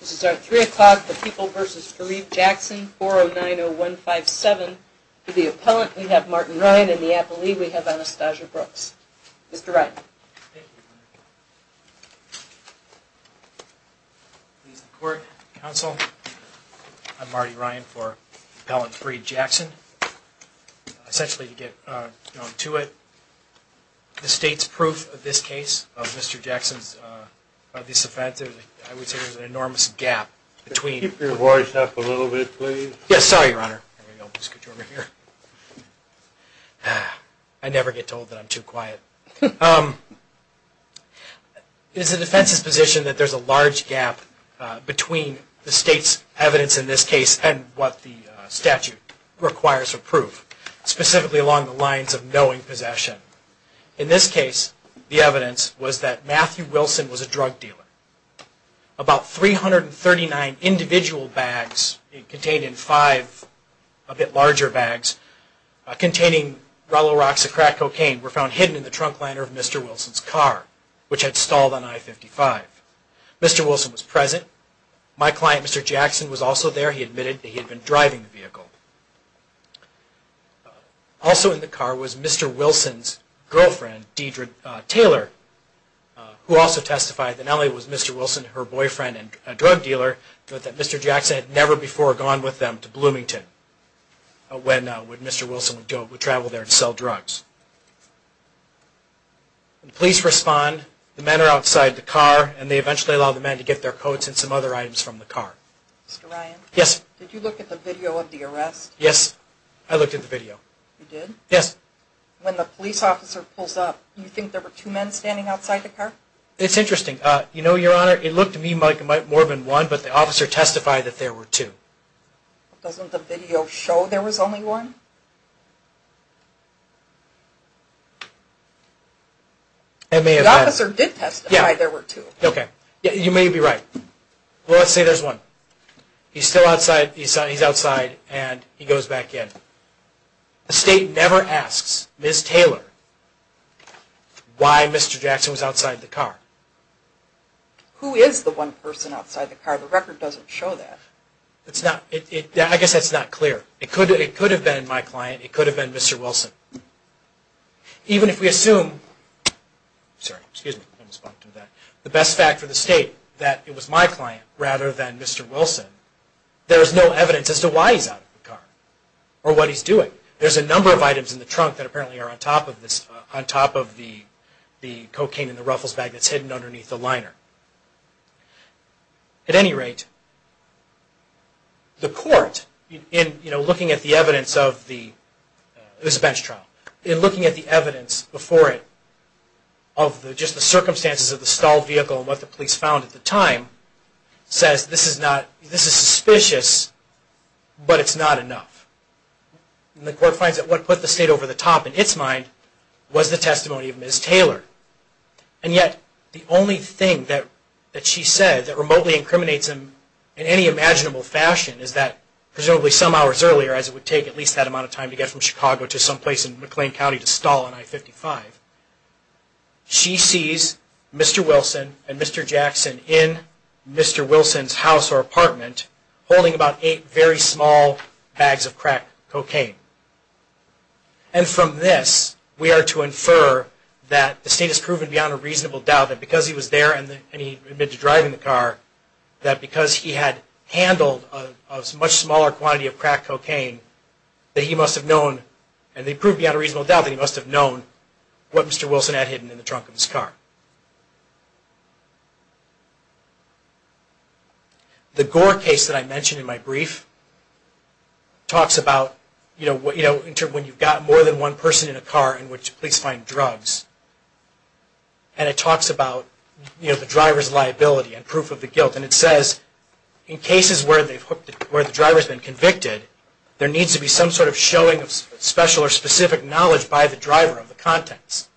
This is our 3 o'clock, the People v. Fareed Jackson, 4090157. For the appellant, we have Martin Ryan. In the appellee, we have Anastasia Brooks. Mr. Ryan. I'm Martin Ryan for Appellant 3, Jackson. Essentially, to get down to it, the state's proof of this case, of Mr. Jackson's, of this offense, I would say there's an enormous gap between... Keep your voice up a little bit, please. Yes, sorry, Your Honor. I never get told that I'm too quiet. It is the defense's position that there's a large gap between the state's evidence in this case and what the statute requires for proof, specifically along the lines of knowing possession. In this case, the evidence was that Matthew Wilson was a drug dealer. About 339 individual bags, contained in five a bit larger bags, containing Roloxocrat cocaine, were found hidden in the trunk liner of Mr. Wilson's car, which had stalled on I-55. Mr. Wilson was present. My client, Mr. Jackson, was also there. He admitted that he had been driving the vehicle. Also in the car was Mr. Wilson's girlfriend, Deidre Taylor, who also testified that not only was Mr. Wilson her boyfriend and a drug dealer, but that Mr. Jackson had never before gone with them to Bloomington when Mr. Wilson would travel there to sell drugs. The police respond. The men are outside the car, and they eventually allow the men to get their coats and some other items from the car. Mr. Ryan? Yes. Did you look at the video of the arrest? Yes, I looked at the video. You did? Yes. When the police officer pulls up, do you think there were two men standing outside the car? It's interesting. You know, Your Honor, it looked to me like it might have been more than one, but the officer testified that there were two. Doesn't the video show there was only one? The officer did testify there were two. Okay. You may be right. Well, let's say there's one. He's still outside. He's outside, and he goes back in. The state never asks Ms. Taylor why Mr. Jackson was outside the car. Who is the one person outside the car? The record doesn't show that. I guess that's not clear. It could have been my client. It could have been Mr. Wilson. Even if we assume the best fact for the state that it was my client rather than Mr. Wilson, there is no evidence as to why he's out of the car or what he's doing. There's a number of items in the trunk that apparently are on top of the cocaine in the ruffles bag that's hidden underneath the liner. At any rate, the court, looking at the evidence of this bench trial, in looking at the evidence before it of just the circumstances of the stalled vehicle and what the police found at the time, says this is suspicious, but it's not enough. And the court finds that what put the state over the top in its mind was the testimony of Ms. Taylor. And yet, the only thing that she said that remotely incriminates him in any imaginable fashion is that presumably some hours earlier, as it would take at least that amount of time to get from Chicago to someplace in McLean County to stall an I-55, she sees Mr. Wilson and Mr. Jackson in Mr. Wilson's house or apartment holding about eight very small bags of crack cocaine. And from this, we are to infer that the state has proven beyond a reasonable doubt that because he was there and he admitted to driving the car, that because he had handled a much smaller quantity of crack cocaine, that he must have known, and they proved beyond a reasonable doubt, that he must have known what Mr. Wilson had hidden in the trunk of his car. The Gore case that I mentioned in my brief talks about when you've got more than one person in a car in which police find drugs. And it talks about the driver's liability and proof of the guilt. And it says in cases where the driver has been convicted, there needs to be some sort of showing of special or specific knowledge by the driver of the contents.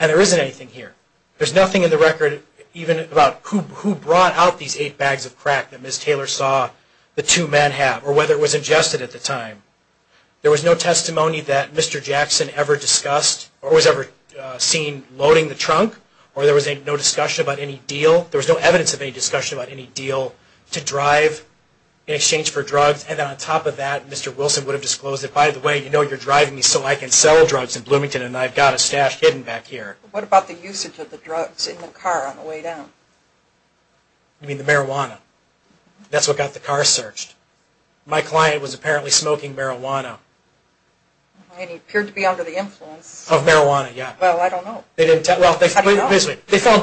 And there isn't anything here. There's nothing in the record even about who brought out these eight bags of crack that Ms. Taylor saw the two men have, or whether it was ingested at the time. There was no testimony that Mr. Jackson ever discussed or was ever seen loading the trunk, or there was no discussion about any deal. There was no evidence of any discussion about any deal to drive in exchange for drugs. And then on top of that, Mr. Wilson would have disclosed that, by the way, you know you're driving me so I can sell drugs in Bloomington, and I've got a stash hidden back here. What about the usage of the drugs in the car on the way down? You mean the marijuana? That's what got the car searched. My client was apparently smoking marijuana. And he appeared to be under the influence. Of marijuana, yeah. Well, I don't know. Well, they found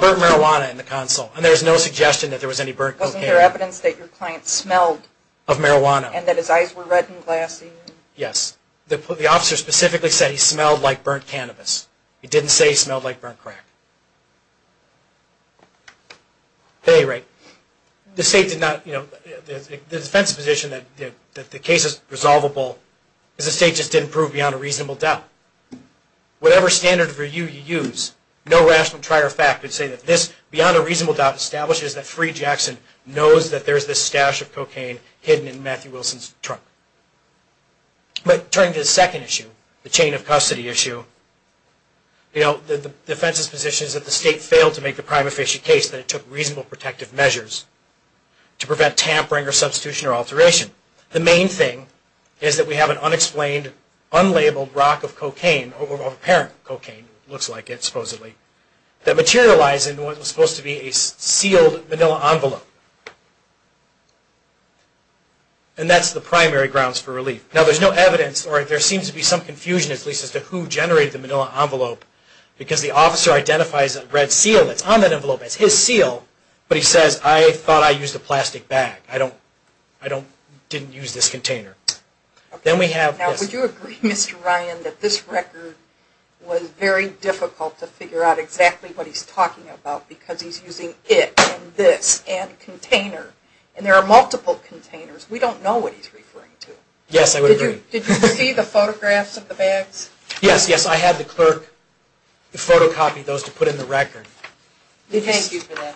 burnt marijuana in the console, and there was no suggestion that there was any burnt cocaine. Wasn't there evidence that your client smelled? Of marijuana. And that his eyes were red and glassy? Yes. The officer specifically said he smelled like burnt cannabis. He didn't say he smelled like burnt crack. At any rate, the state did not, you know, the defense position that the case is resolvable is the state just didn't prove beyond a reasonable doubt. Whatever standard of review you use, no rational prior fact could say that this beyond a reasonable doubt establishes that But turning to the second issue, the chain of custody issue, you know, the defense's position is that the state failed to make a prime official case that it took reasonable protective measures to prevent tampering or substitution or alteration. The main thing is that we have an unexplained, unlabeled rock of cocaine, or apparent cocaine it looks like, supposedly, that materialized in what was supposed to be a sealed manila envelope. And that's the primary grounds for relief. Now, there's no evidence, or there seems to be some confusion at least, as to who generated the manila envelope, because the officer identifies a red seal that's on that envelope. It's his seal, but he says, I thought I used a plastic bag. I didn't use this container. Now, would you agree, Mr. Ryan, that this record was very difficult to figure out exactly what he's talking about, because he's using it and this and container. And there are multiple containers. We don't know what he's referring to. Yes, I would agree. Did you see the photographs of the bags? Yes, yes. I had the clerk photocopy those to put in the record. Thank you for that.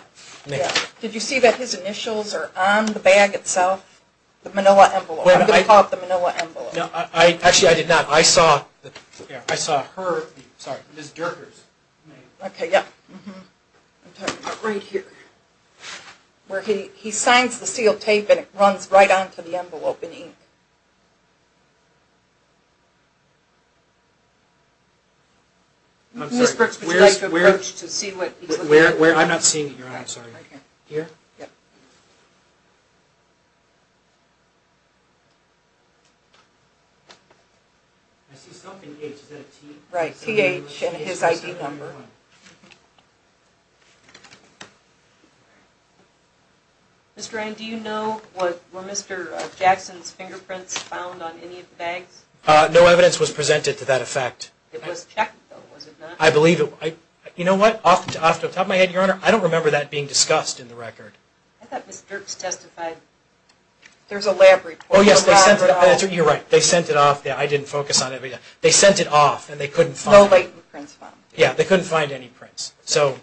Did you see that his initials are on the bag itself, the manila envelope? I'm going to call it the manila envelope. Actually, I did not. I saw her. Sorry, Ms. Dirkers. Okay, yeah. Right here. Where he signs the sealed tape and it runs right onto the envelope in ink. Ms. Brooks, would you like to approach to see what he's looking at? I'm not seeing it, Your Honor. I'm sorry. Here? Here? Yeah. I see something here. Is that a T? Right, TH and his ID number. Mr. Ryan, do you know were Mr. Jackson's fingerprints found on any of the bags? No evidence was presented to that effect. It was checked, though, was it not? I believe it was. You know what, off the top of my head, Your Honor, I don't remember that being discussed in the record. I thought Ms. Dirkers testified. There's a lab report. Oh, yes. They sent it off. You're right. They sent it off. I didn't focus on it. They sent it off and they couldn't find it. No latent prints found. Yeah, they couldn't find any prints. So,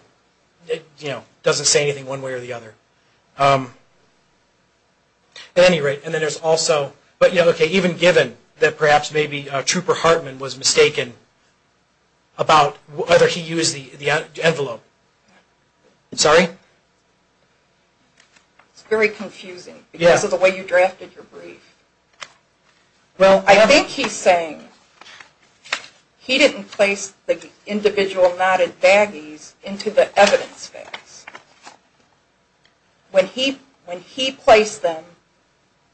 you know, it doesn't say anything one way or the other. At any rate, and then there's also, okay, even given that perhaps maybe Trooper Hartman was mistaken about whether he used the envelope. I'm sorry? It's very confusing because of the way you drafted your brief. Well, I think he's saying he didn't place the individual knotted baggies into the evidence bags. When he placed them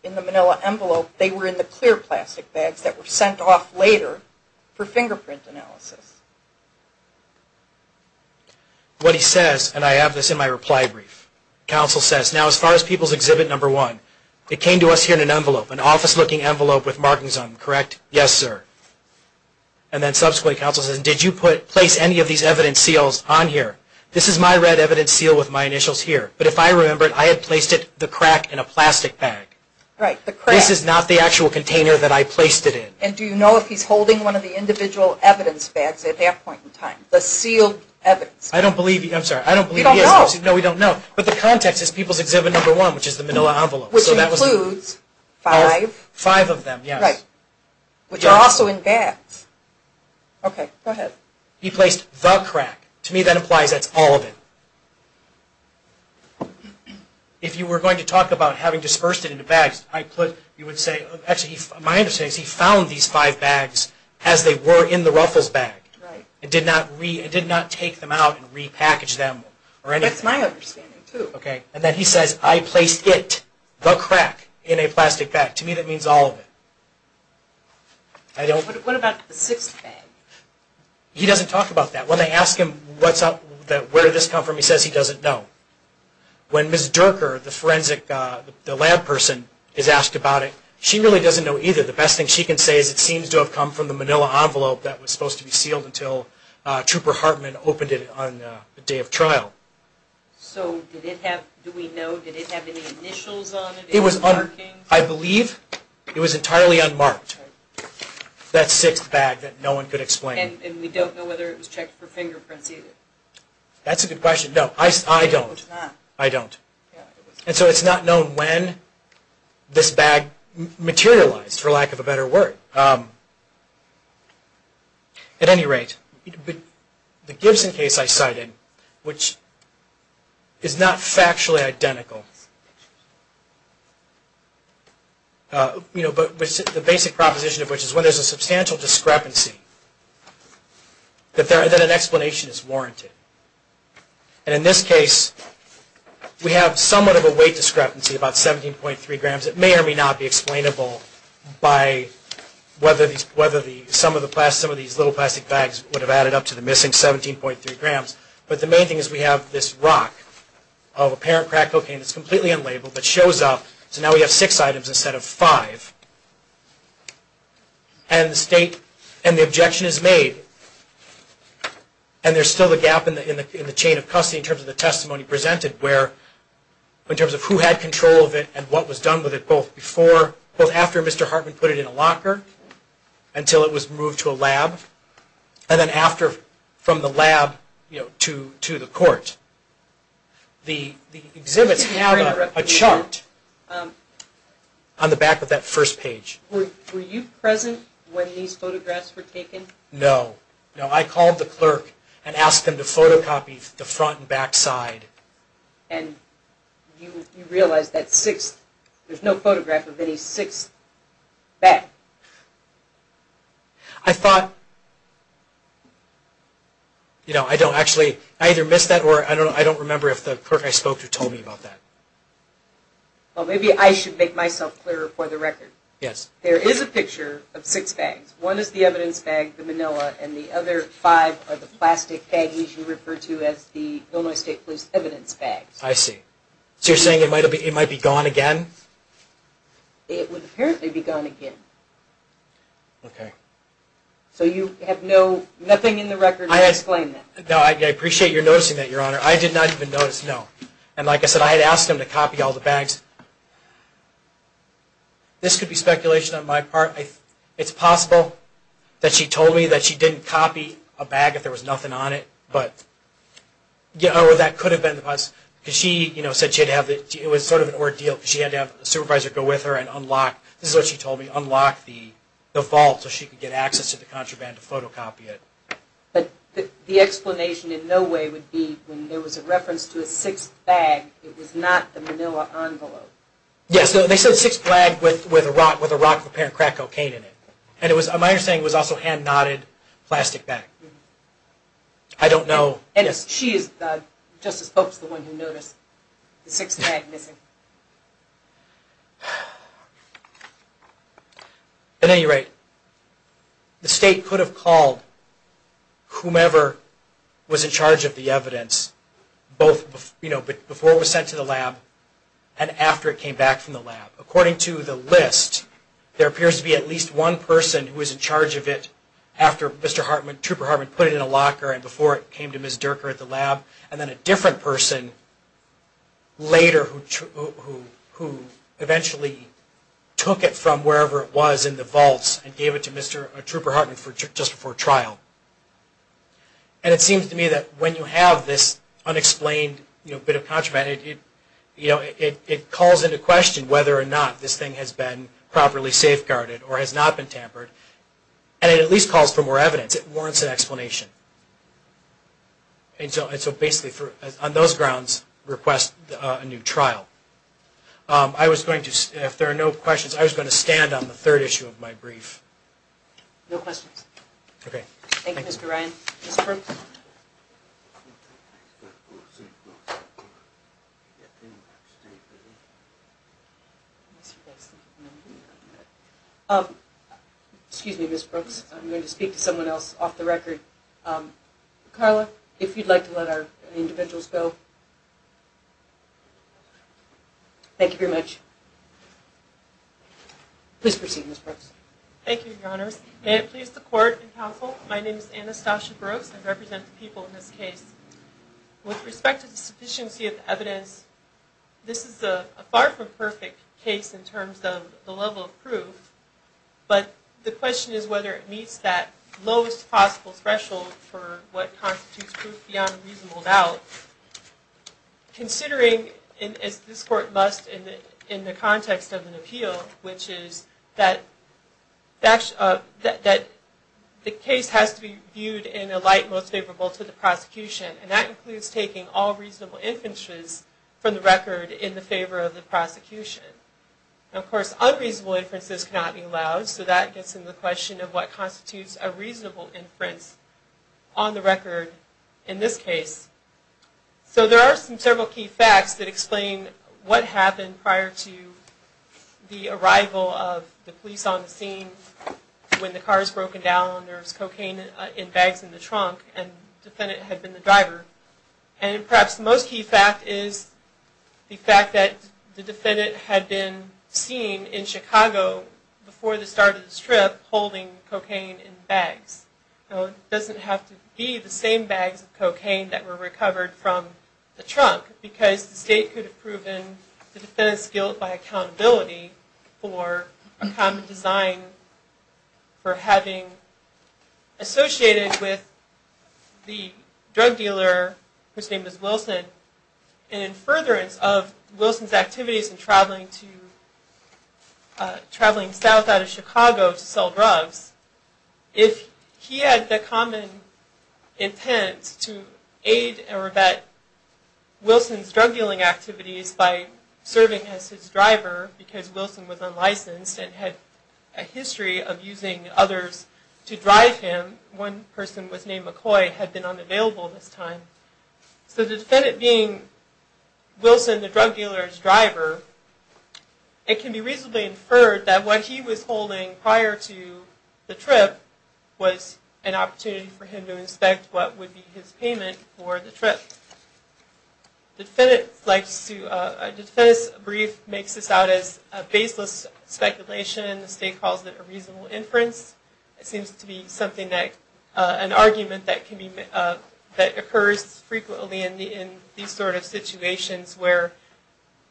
in the manila envelope, they were in the clear plastic bags that were sent off later for fingerprint analysis. What he says, and I have this in my reply brief, counsel says, now as far as people's exhibit number one, it came to us here in an envelope, an office-looking envelope with markings on it, correct? Yes, sir. And then subsequently, counsel says, did you place any of these evidence seals on here? This is my red evidence seal with my initials here, but if I remember it, I had placed it, the crack, in a plastic bag. Right, the crack. This is not the actual container that I placed it in. And do you know if he's holding one of the individual evidence bags at that point in time, the sealed evidence bag? I don't believe he is. You don't know? No, we don't know. But the context is people's exhibit number one, which is the manila envelope. Which includes five? Five of them, yes. Right, which are also in bags. Okay, go ahead. He placed the crack. To me, that implies that's all of it. If you were going to talk about having dispersed it into bags, you would say, actually, my understanding is he found these five bags as they were in the ruffles bag. Right. And did not take them out and repackage them or anything. That's my understanding, too. Okay, and then he says, I placed it, the crack, in a plastic bag. To me, that means all of it. What about the sixth bag? He doesn't talk about that. When they ask him where did this come from, he says he doesn't know. When Ms. Durker, the forensic, the lab person, is asked about it, she really doesn't know either. The best thing she can say is it seems to have come from the manila envelope that was supposed to be sealed until Trooper Hartman opened it on the day of trial. So did it have, do we know, did it have any initials on it? It was, I believe, it was entirely unmarked. That sixth bag that no one could explain. And we don't know whether it was checked for fingerprints either. That's a good question. No, I don't. It was not. I don't. And so it's not known when this bag materialized, for lack of a better word. At any rate, the Gibson case I cited, which is not factually identical, but the basic proposition of which is when there's a substantial discrepancy, that an explanation is warranted. And in this case, we have somewhat of a weight discrepancy, about 17.3 grams. It may or may not be explainable by whether some of these little plastic bags would have added up to the missing 17.3 grams. But the main thing is we have this rock of apparent crack cocaine. It's completely unlabeled, but shows up. So now we have six items instead of five. And the state, and the objection is made. And there's still a gap in the chain of custody in terms of the testimony presented where, in terms of who had control of it and what was done with it, both before, both after Mr. Hartman put it in a locker, until it was moved to a lab, and then after, from the lab to the court. The exhibits have a chart on the back of that first page. Were you present when these photographs were taken? No. No, I called the clerk and asked him to photocopy the front and back side. And you realized that there's no photograph of any sixth bag? I thought, you know, I don't actually, I either missed that or I don't remember if the clerk I spoke to told me about that. Well, maybe I should make myself clearer for the record. Yes. There is a picture of six bags. One is the evidence bag, the manila, and the other five are the plastic bags you refer to as the Illinois State Police evidence bags. I see. So you're saying it might be gone again? It would apparently be gone again. Okay. So you have no, nothing in the record to explain that? No, I appreciate your noticing that, Your Honor. I did not even notice, no. And like I said, I had asked him to copy all the bags. This could be speculation on my part. It's possible that she told me that she didn't copy a bag if there was nothing on it, it was sort of an ordeal because she had to have a supervisor go with her and unlock, this is what she told me, unlock the vault so she could get access to the contraband to photocopy it. But the explanation in no way would be when there was a reference to a sixth bag, it was not the manila envelope. Yes, they said sixth bag with a rock of apparent crack cocaine in it. And it was, my understanding was also hand-knotted plastic bag. I don't know. And she is, Justice Pope is the one who noticed the sixth bag missing. At any rate, the State could have called whomever was in charge of the evidence, both before it was sent to the lab and after it came back from the lab. According to the list, there appears to be at least one person who was in charge of it after Mr. Hartman, Trooper Hartman put it in a locker and before it came to Ms. Durker at the lab, and then a different person later who eventually took it from wherever it was in the vaults and gave it to Mr. or Trooper Hartman just before trial. And it seems to me that when you have this unexplained bit of contraband, it calls into question whether or not this thing has been properly safeguarded or has not been tampered, and it at least calls for more evidence. It warrants an explanation. And so basically, on those grounds, request a new trial. I was going to, if there are no questions, I was going to stand on the third issue of my brief. No questions. Okay. Thank you, Mr. Ryan. Mr. Brooks? Excuse me, Ms. Brooks. I'm going to speak to someone else off the record. Carla, if you'd like to let our individuals go. Thank you very much. Please proceed, Ms. Brooks. Thank you, Your Honors. May it please the Court and Council, my name is Anastasia Brooks. I represent the people in this case. With respect to the sufficiency of the evidence, this is a far from perfect case in terms of the level of proof, but the question is whether it meets that lowest possible threshold for what constitutes proof beyond reasonable doubt. Considering, as this Court must in the context of an appeal, which is that the case has to be viewed in a light most favorable to the prosecution, and that includes taking all reasonable inferences from the record in the favor of the prosecution. Of course, unreasonable inferences cannot be allowed, so that gets into the question of what constitutes a reasonable inference on the record in this case. So there are some several key facts that explain what happened prior to the arrival of the police on the scene when the car was broken down and there was cocaine in bags in the trunk and the defendant had been the driver. And perhaps the most key fact is the fact that the defendant had been seen in Chicago before the start of this trip holding cocaine in bags. It doesn't have to be the same bags of cocaine that were recovered from the trunk because the state could have proven the defendant's guilt by accountability for a common design for having associated with the drug dealer, whose name is Wilson. And in furtherance of Wilson's activities in traveling south out of Chicago to sell drugs, if he had the common intent to aid or abet Wilson's drug dealing activities by serving as his driver because Wilson was unlicensed and had a history of using others to drive him, one person was named McCoy, had been unavailable this time. So the defendant being Wilson, the drug dealer's driver, it can be reasonably inferred that what he was holding prior to the trip was an opportunity for him to inspect what would be his payment for the trip. The defendant's brief makes this out as baseless speculation. The state calls it a reasonable inference. It seems to be an argument that occurs frequently in these sort of situations where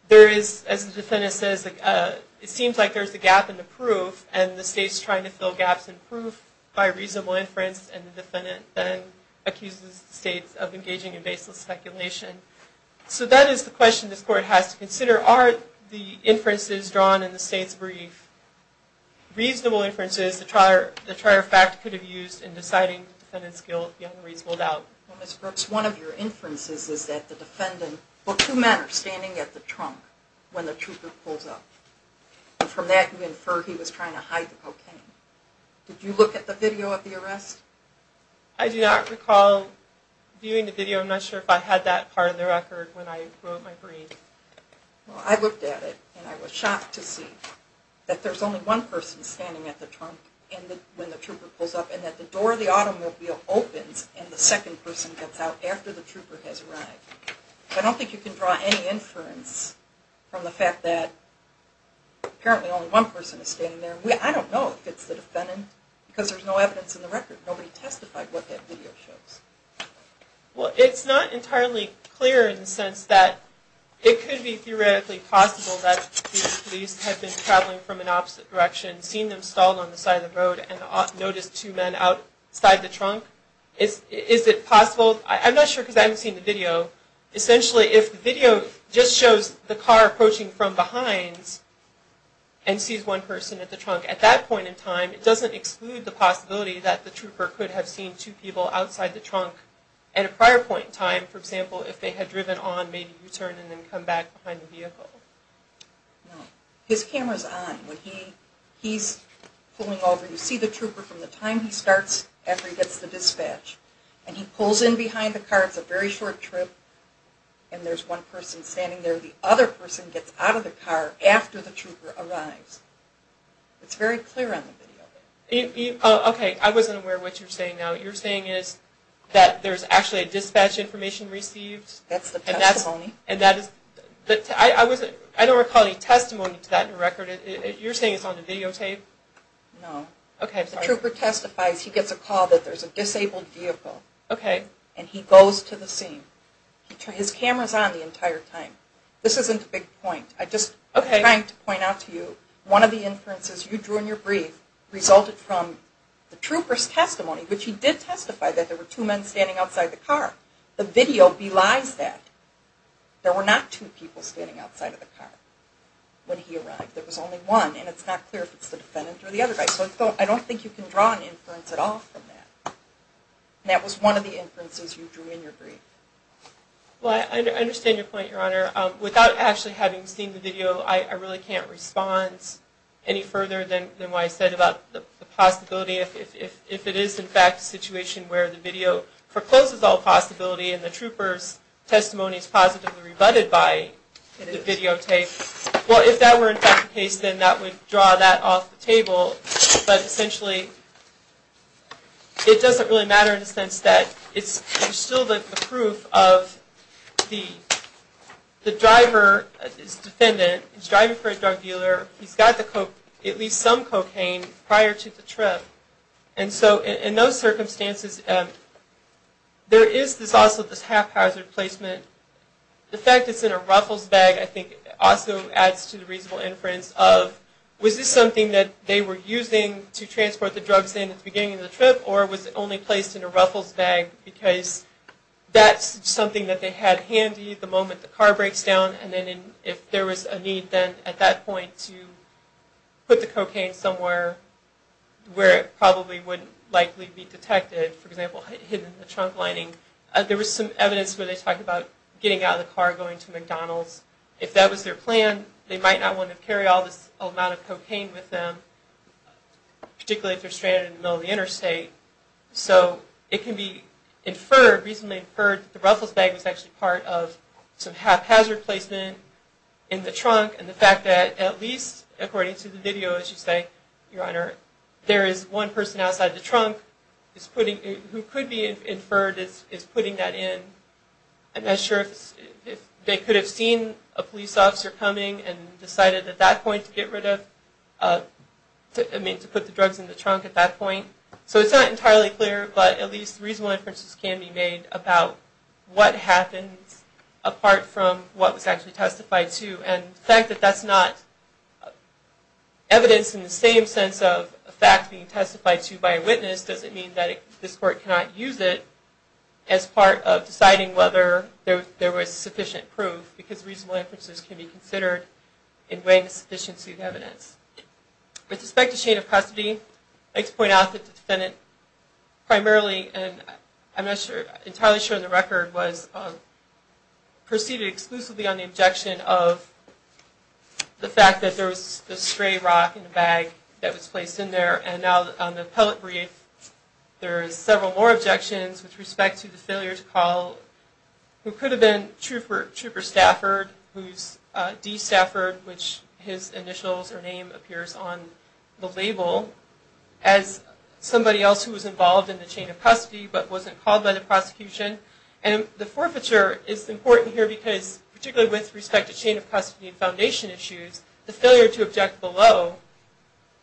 there is, as the defendant says, it seems like there's a gap in the proof and the state's trying to fill gaps in proof by reasonable inference and the defendant then accuses the state of engaging in baseless speculation. So that is the question this Court has to consider. Are the inferences drawn in the state's brief reasonable inferences that trier fact could have used in deciding the defendant's guilt beyond reasonable doubt? Ms. Brooks, one of your inferences is that the defendant, well, two men are standing at the trunk when the trooper pulls up, and from that you infer he was trying to hide the cocaine. Did you look at the video of the arrest? I do not recall viewing the video. I'm not sure if I had that part of the record when I wrote my brief. Well, I looked at it and I was shocked to see that there's only one person standing at the trunk when the trooper pulls up and that the door of the automobile opens and the second person gets out after the trooper has arrived. I don't think you can draw any inference from the fact that apparently only one person is standing there. I don't know if it's the defendant because there's no evidence in the record. Nobody testified what that video shows. Well, it's not entirely clear in the sense that it could be theoretically possible that the police had been traveling from an opposite direction, seen them stalled on the side of the road and noticed two men outside the trunk. Is it possible? I'm not sure because I haven't seen the video. Essentially, if the video just shows the car approaching from behind and sees one person at the trunk at that point in time, it doesn't exclude the possibility that the trooper could have seen two people outside the trunk at a prior point in time, for example, if they had driven on, maybe returned, and then come back behind the vehicle. No. His camera's on. When he's pulling over, you see the trooper from the time he starts after he gets the dispatch. And he pulls in behind the car. It's a very short trip. And there's one person standing there. The other person gets out of the car after the trooper arrives. It's very clear on the video. Okay. I wasn't aware of what you're saying now. What you're saying is that there's actually a dispatch information received. That's the testimony. I don't recall any testimony to that record. You're saying it's on the videotape? No. Okay. The trooper testifies. He gets a call that there's a disabled vehicle. Okay. And he goes to the scene. His camera's on the entire time. This isn't a big point. I'm just trying to point out to you, one of the inferences you drew in your brief resulted from the trooper's testimony, which he did testify that there were two men standing outside the car. The video belies that. There were not two people standing outside of the car when he arrived. There was only one. And it's not clear if it's the defendant or the other guy. So I don't think you can draw an inference at all from that. And that was one of the inferences you drew in your brief. Well, I understand your point, Your Honor. Without actually having seen the video, I really can't respond any further than what I said about the possibility, if it is, in fact, a situation where the video forecloses all possibility and the trooper's testimony is positively rebutted by the videotape. Well, if that were, in fact, the case, then that would draw that off the table. But essentially, it doesn't really matter in the sense that there's still the proof of the driver, his defendant, he's driving for a drug dealer, he's got at least some cocaine prior to the trip. And so in those circumstances, there is also this haphazard placement. The fact it's in a ruffles bag, I think, also adds to the reasonable inference of, was this something that they were using to transport the drugs in at the beginning of the trip, or was it only placed in a ruffles bag because that's something that they had handy the moment the car breaks down, and then if there was a need then at that point to put the cocaine somewhere where it probably wouldn't likely be detected, for example, hidden in the trunk lining, there was some evidence where they talked about getting out of the car, going to McDonald's. If that was their plan, they might not want to carry all this amount of cocaine with them, particularly if they're stranded in the middle of the interstate. So it can be inferred, reasonably inferred, that the ruffles bag was actually part of some haphazard placement in the trunk, and the fact that at least, according to the video, as you say, Your Honor, there is one person outside the trunk who could be inferred as putting that in. I'm not sure if they could have seen a police officer coming and decided at that point to get rid of, I mean, to put the drugs in the trunk at that point. So it's not entirely clear, but at least reasonable inferences can be made about what happens apart from what was actually testified to, and the fact that that's not evidence in the same sense of a fact being testified to by a witness doesn't mean that this court cannot use it as part of deciding whether there was sufficient proof, because reasonable inferences can be considered in weighing the sufficiency of evidence. With respect to chain of custody, I'd like to point out that the defendant primarily, and I'm not entirely sure on the record, was preceded exclusively on the objection of the fact that there was a stray rock in the bag that was placed in there, and now on the appellate brief there are several more objections with respect to the failure to call who could have been Trooper Stafford, who's D. Stafford, which his initials or name appears on the label, as somebody else who was involved in the chain of custody but wasn't called by the prosecution. And the forfeiture is important here because, particularly with respect to chain of custody and foundation issues, the failure to object below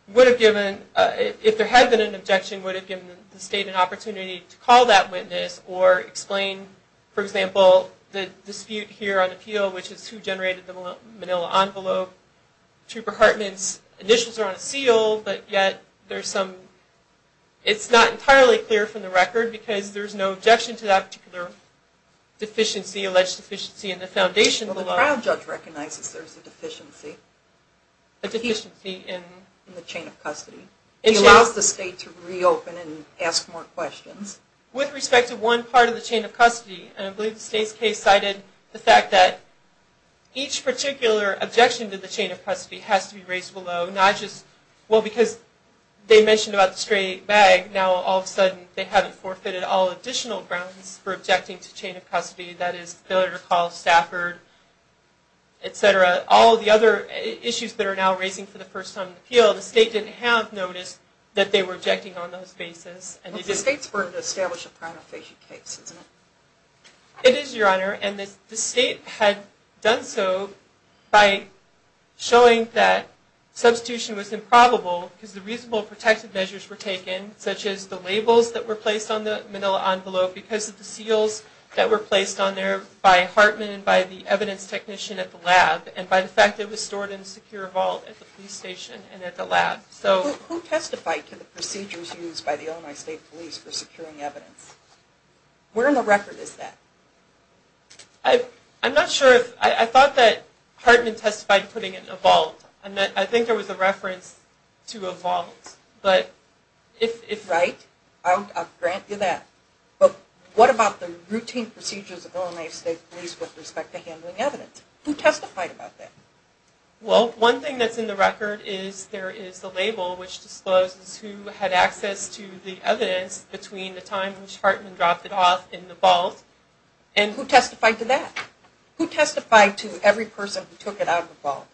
would have given, if there had been an objection, would have given the state an opportunity to call that witness or explain, for example, the dispute here on appeal, which is who generated the manila envelope. Trooper Hartman's initials are on a seal, but yet there's some, it's not entirely clear from the record because there's no objection to that particular deficiency, alleged deficiency in the foundation below. Well, the trial judge recognizes there's a deficiency. A deficiency in? In the chain of custody. He allows the state to reopen and ask more questions. With respect to one part of the chain of custody, and I believe the state's case cited the fact that each particular objection to the chain of custody has to be raised below, not just, well, because they mentioned about the stray bag, now all of a sudden they haven't forfeited all additional grounds for objecting to chain of custody, that is, failure to call Stafford, et cetera. All of the other issues that are now raising for the first time on appeal, the state didn't have notice that they were objecting on those basis. Well, the state's burden to establish a primary patient case, isn't it? It is, Your Honor, and the state had done so by showing that substitution was improbable because the reasonable protective measures were taken, such as the labels that were placed on the manila envelope because of the seals that were placed on there by Hartman and by the evidence technician at the lab, and by the fact that it was stored in a secure vault at the police station and at the lab. Who testified to the procedures used by the Illinois State Police for securing evidence? Where in the record is that? I'm not sure. I thought that Hartman testified putting it in a vault. I think there was a reference to a vault. Right? I'll grant you that. But what about the routine procedures of Illinois State Police with respect to handling evidence? Who testified about that? Well, one thing that's in the record is there is a label which discloses who had access to the evidence between the time in which Hartman dropped it off in the vault and... Who testified to that? Who testified to every person who took it out of the vault?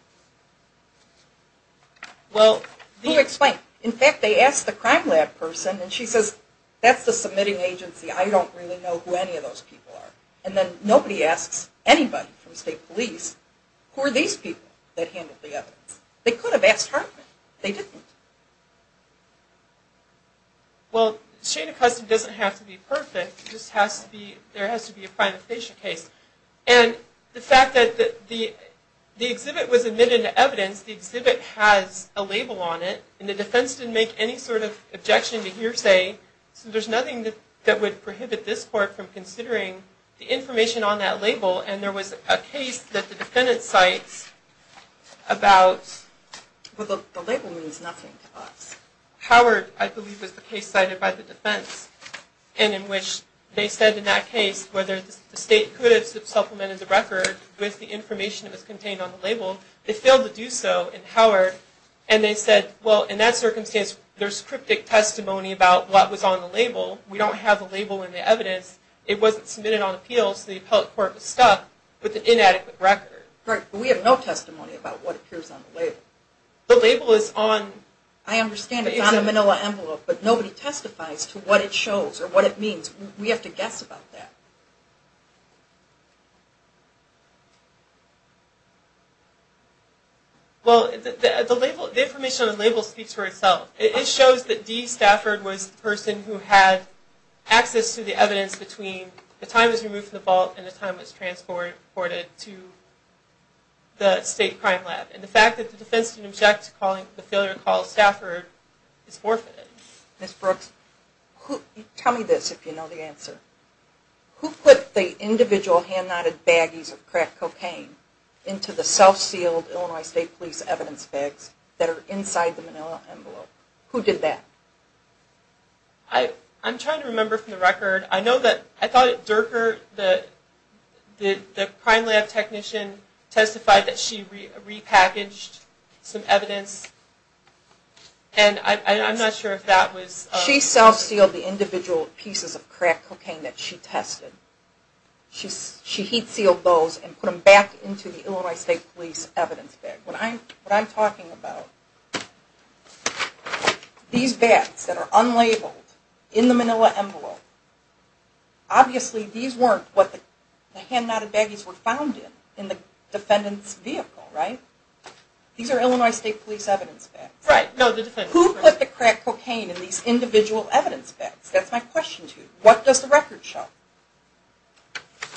Well... Who explained? In fact, they asked the crime lab person, and she says, that's the submitting agency, I don't really know who any of those people are. And then nobody asks anybody from State Police, who are these people that handled the evidence? They could have asked Hartman. They didn't. Well, the chain of custody doesn't have to be perfect. It just has to be... there has to be a prima facie case. And the fact that the exhibit was admitted to evidence, the exhibit has a label on it, and the defense didn't make any sort of objection to hearsay, so there's nothing that would prohibit this court from considering the information on that label, and there was a case that the defendant cites about... Well, the label means nothing to us. Howard, I believe, was the case cited by the defense, and in which they said in that case whether the state could have supplemented the record with the information that was contained on the label. They failed to do so in Howard, and they said, Well, in that circumstance, there's cryptic testimony about what was on the label. We don't have a label in the evidence. It wasn't submitted on appeal, so the appellate court was stuck with an inadequate record. Right, but we have no testimony about what appears on the label. The label is on... I understand it's on a manila envelope, but nobody testifies to what it shows or what it means. We have to guess about that. Well, the information on the label speaks for itself. It shows that D. Stafford was the person who had access to the evidence between the time it was removed from the vault and the time it was transported to the state crime lab, and the fact that the defense can object to the failure to call Stafford is forfeited. Ms. Brooks, tell me this, if you know the answer. Who put the information on the label? Who put the individual hand-knotted baggies of crack cocaine into the self-sealed Illinois State Police evidence bags that are inside the manila envelope? Who did that? I'm trying to remember from the record. I know that, I thought it, Durker, the crime lab technician, testified that she repackaged some evidence, and I'm not sure if that was... She self-sealed the individual pieces of crack cocaine that she tested. She heat-sealed those and put them back into the Illinois State Police evidence bag. What I'm talking about, these bags that are unlabeled in the manila envelope, obviously these weren't what the hand-knotted baggies were found in, in the defendant's vehicle, right? These are Illinois State Police evidence bags. Right. Who put the crack cocaine in these individual evidence bags? That's my question to you. What does the record show?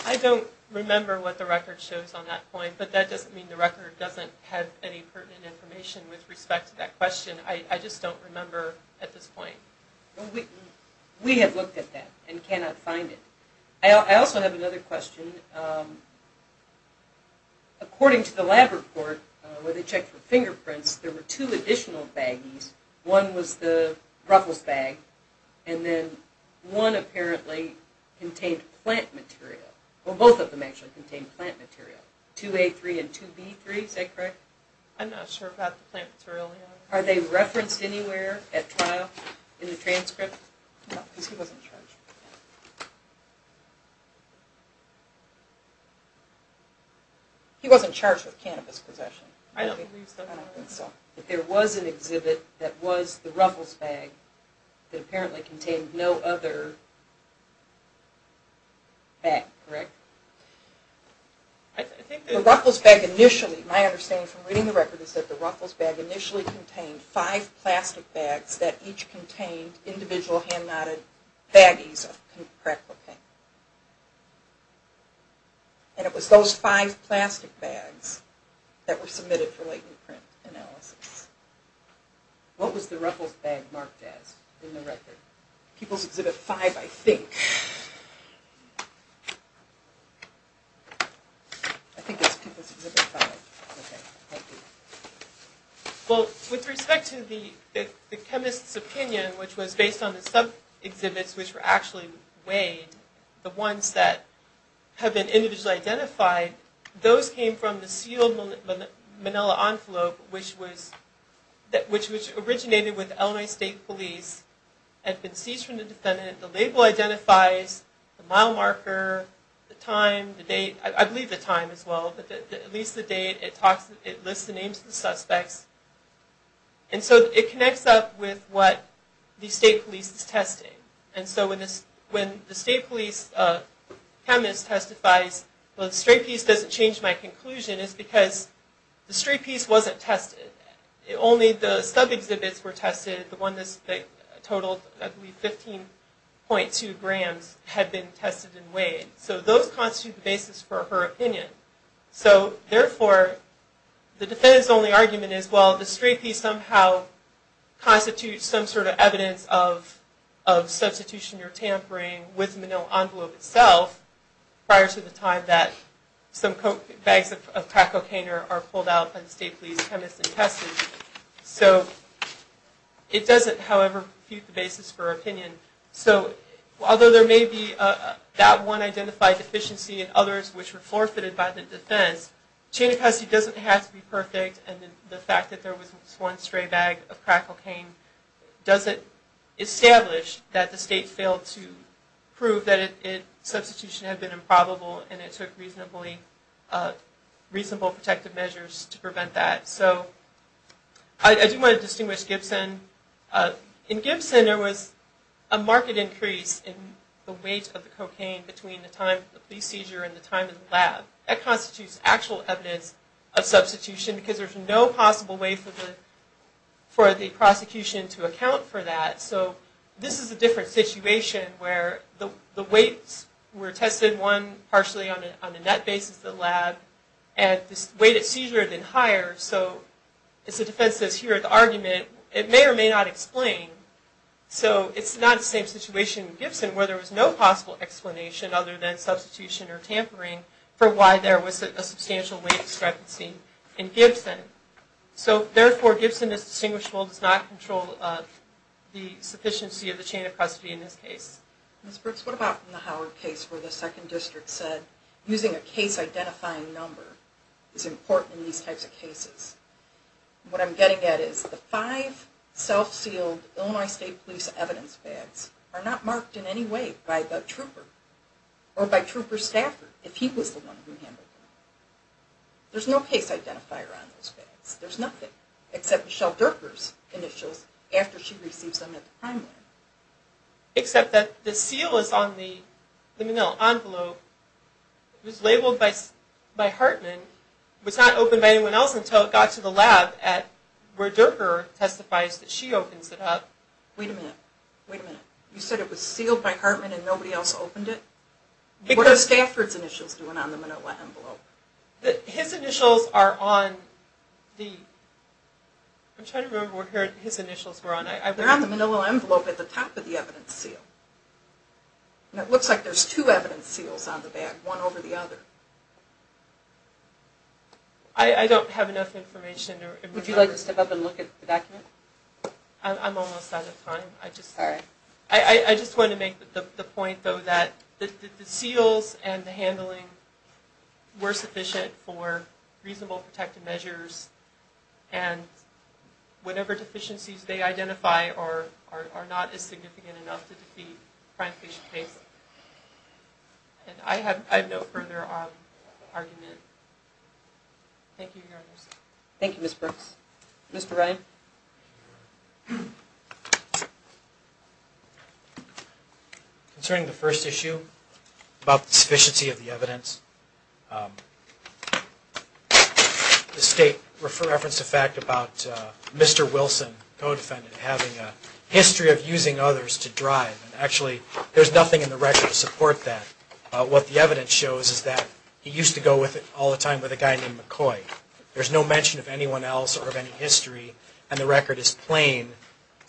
I don't remember what the record shows on that point, but that doesn't mean the record doesn't have any pertinent information with respect to that question. I just don't remember at this point. We have looked at that and cannot find it. I also have another question. According to the lab report where they checked for fingerprints, there were two additional baggies. One was the ruffles bag, and then one apparently contained plant material. Well, both of them actually contained plant material. 2A3 and 2B3, is that correct? I'm not sure about the plant material. Are they referenced anywhere at trial in the transcript? No, because he wasn't charged. He wasn't charged with cannabis possession. I don't think so. There was an exhibit that was the ruffles bag that apparently contained no other bag, correct? The ruffles bag initially, my understanding from reading the record is that the ruffles bag initially contained five plastic bags that each contained individual hand knotted baggies of crack cocaine. And it was those five plastic bags that were submitted for latent print analysis. What was the ruffles bag marked as in the record? People's Exhibit 5, I think. I think it's People's Exhibit 5. Well, with respect to the chemist's opinion, which was based on the sub-exhibits which were actually weighed, the ones that have been individually identified, those came from the sealed manila envelope, which originated with Illinois State Police, had been seized from the defendant, the label identifies, the mile marker, the time, the date, I believe the time as well, but at least the date, it lists the names of the suspects. And so it connects up with what the State Police is testing. And so when the State Police chemist testifies, well the straight piece doesn't change my conclusion, it's because the straight piece wasn't tested. Only the sub-exhibits were tested, the ones that totaled I believe 15.2 grams had been tested and weighed. So those constitute the basis for her opinion. So therefore, the defendant's only argument is, well the straight piece somehow constitutes some sort of evidence of substitution or tampering with the manila envelope itself, prior to the time that some bags of crack cocaine are pulled out by the State Police chemist and tested. So it doesn't, however, refute the basis for her opinion. So although there may be that one identified deficiency and others which were forfeited by the defense, chain of custody doesn't have to be perfect and the fact that there was one stray bag of crack cocaine doesn't establish that the State failed to prove that substitution had been improbable and it took reasonable protective measures to prevent that. So I do want to distinguish Gibson. In Gibson there was a marked increase in the weight of the cocaine between the time of the police seizure and the time in the lab. That constitutes actual evidence of substitution because there's no possible way for the prosecution to account for that. So this is a different situation where the weights were tested, one partially on a net basis in the lab, and the weight at seizure had been higher. So as the defense says here at the argument, it may or may not explain. So it's not the same situation in Gibson where there was no possible explanation other than substitution or tampering for why there was a substantial weight discrepancy in Gibson. So therefore Gibson is distinguishable, does not control the sufficiency of the chain of custody in this case. Ms. Brooks, what about the Howard case where the 2nd District said using a case identifying number is important in these types of cases? What I'm getting at is the 5 self-sealed Illinois State Police evidence bags are not marked in any way by the trooper or by trooper's staffer if he was the one who handled them. There's no case identifier on those bags. There's nothing except Michelle Durker's initials after she receives them at the crime lab. Except that the seal is on the manila envelope. It was labeled by Hartman. It was not opened by anyone else until it got to the lab where Durker testifies that she opens it up. Wait a minute. Wait a minute. You said it was sealed by Hartman and nobody else opened it? What are Stafford's initials doing on the manila envelope? His initials are on the... I'm trying to remember what his initials were on. They're on the manila envelope at the top of the evidence seal. It looks like there's two evidence seals on the bag, one over the other. I don't have enough information. Would you like to step up and look at the document? I'm almost out of time. I just want to make the point though that the seals and the handling were sufficient for reasonable protective measures and whatever deficiencies they identify are not as significant enough to defeat a crime patient case. And I have no further argument. Thank you, Your Honor. Thank you, Ms. Brooks. Mr. Ryan? Thank you, Your Honor. Concerning the first issue about the sufficiency of the evidence, the State referenced a fact about Mr. Wilson, co-defendant, having a history of using others to drive. Actually, there's nothing in the record to support that. What the evidence shows is that he used to go all the time with a guy named McCoy. There's no mention of anyone else or of any history, and the record is plain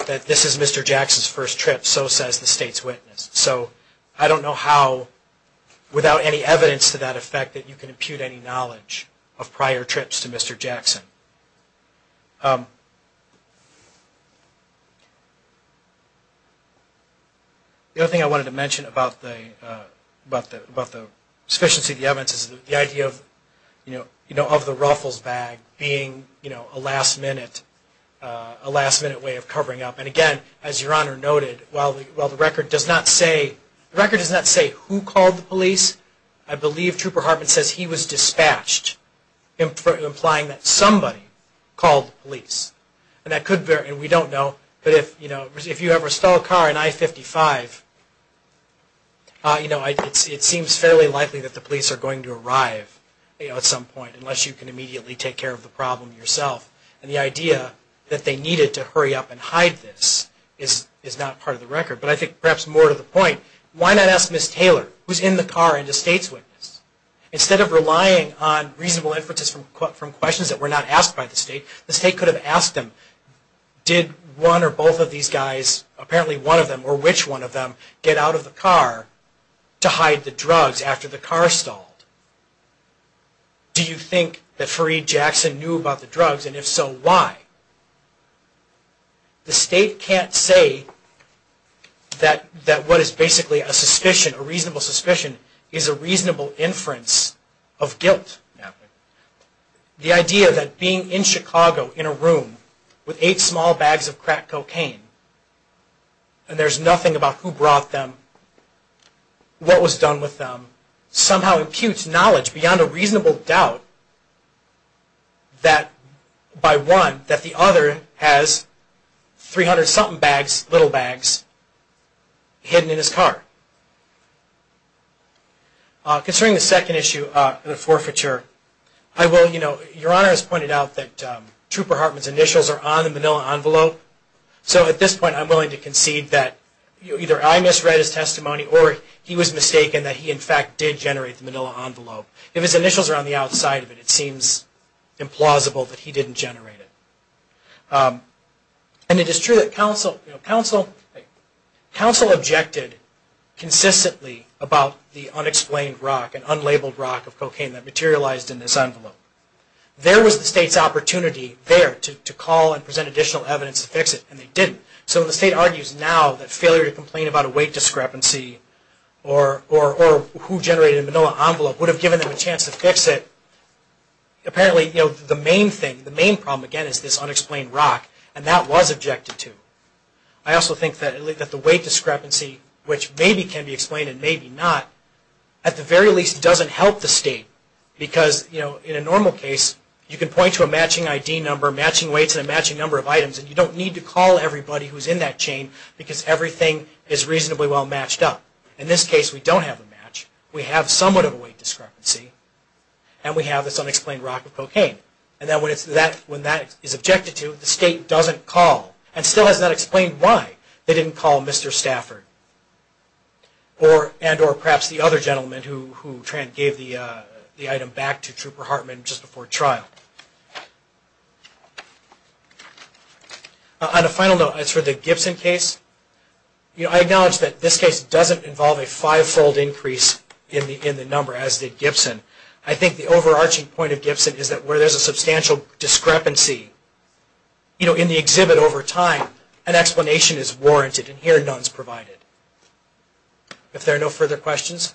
that this is Mr. Jackson's first trip, so says the State's witness. So I don't know how, without any evidence to that effect, that you can impute any knowledge of prior trips to Mr. Jackson. The other thing I wanted to mention about the sufficiency of the evidence is the idea of the ruffles bag being a last-minute way of covering up. And again, as Your Honor noted, while the record does not say who called the police, I believe Trooper Hartman says he was dispatched, implying that somebody called the police. And we don't know, but if you ever stole a car in I-55, it seems fairly likely that the police are going to arrive at some point, unless you can immediately take care of the problem yourself. And the idea that they needed to hurry up and hide this is not part of the record. But I think perhaps more to the point, why not ask Ms. Taylor, who's in the car and the State's witness? Instead of relying on reasonable inferences from questions that were not asked by the State, the State could have asked them, did one or both of these guys, apparently one of them or which one of them, get out of the car to hide the drugs after the car stalled? Do you think that Fareed Jackson knew about the drugs, and if so, why? The State can't say that what is basically a suspicion, a reasonable suspicion, is a reasonable inference of guilt. The idea that being in Chicago, in a room, with eight small bags of crack cocaine, and there's nothing about who brought them, what was done with them, somehow imputes knowledge beyond a reasonable doubt that by one, that the other has 300-something bags, little bags, hidden in his car. Concerning the second issue, the forfeiture, your Honor has pointed out that Trooper Hartman's initials are on the manila envelope. So at this point, I'm willing to concede that either I misread his testimony, or he was mistaken that he in fact did generate the manila envelope. If his initials are on the outside of it, it seems implausible that he didn't generate it. And it is true that counsel objected consistently about the unexplained rock, an unlabeled rock of cocaine that materialized in this envelope. There was the State's opportunity there to call and present additional evidence to fix it, and they didn't. So the State argues now that failure to complain about a weight discrepancy, or who generated the manila envelope, would have given them a chance to fix it. Apparently, the main thing, the main problem, again, is this unexplained rock, and that was objected to. I also think that the weight discrepancy, which maybe can be explained and maybe not, at the very least doesn't help the State. Because in a normal case, you can point to a matching ID number, matching weights, and a matching number of items, and you don't need to call everybody who is in that chain, because everything is reasonably well matched up. In this case, we don't have a match. We have somewhat of a weight discrepancy, and we have this unexplained rock of cocaine. And then when that is objected to, the State doesn't call, and still has not explained why they didn't call Mr. Stafford, and or perhaps the other gentleman who gave the item back to Trooper Hartman just before trial. On a final note, as for the Gibson case, I acknowledge that this case doesn't involve a five-fold increase in the number, as did Gibson. I think the overarching point of Gibson is that where there is a substantial discrepancy, you know, in the exhibit over time, an explanation is warranted, and here none is provided. If there are no further questions?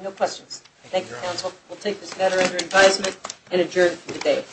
No questions. Thank you, Counsel. We'll take this matter under advisement and adjourn for the day.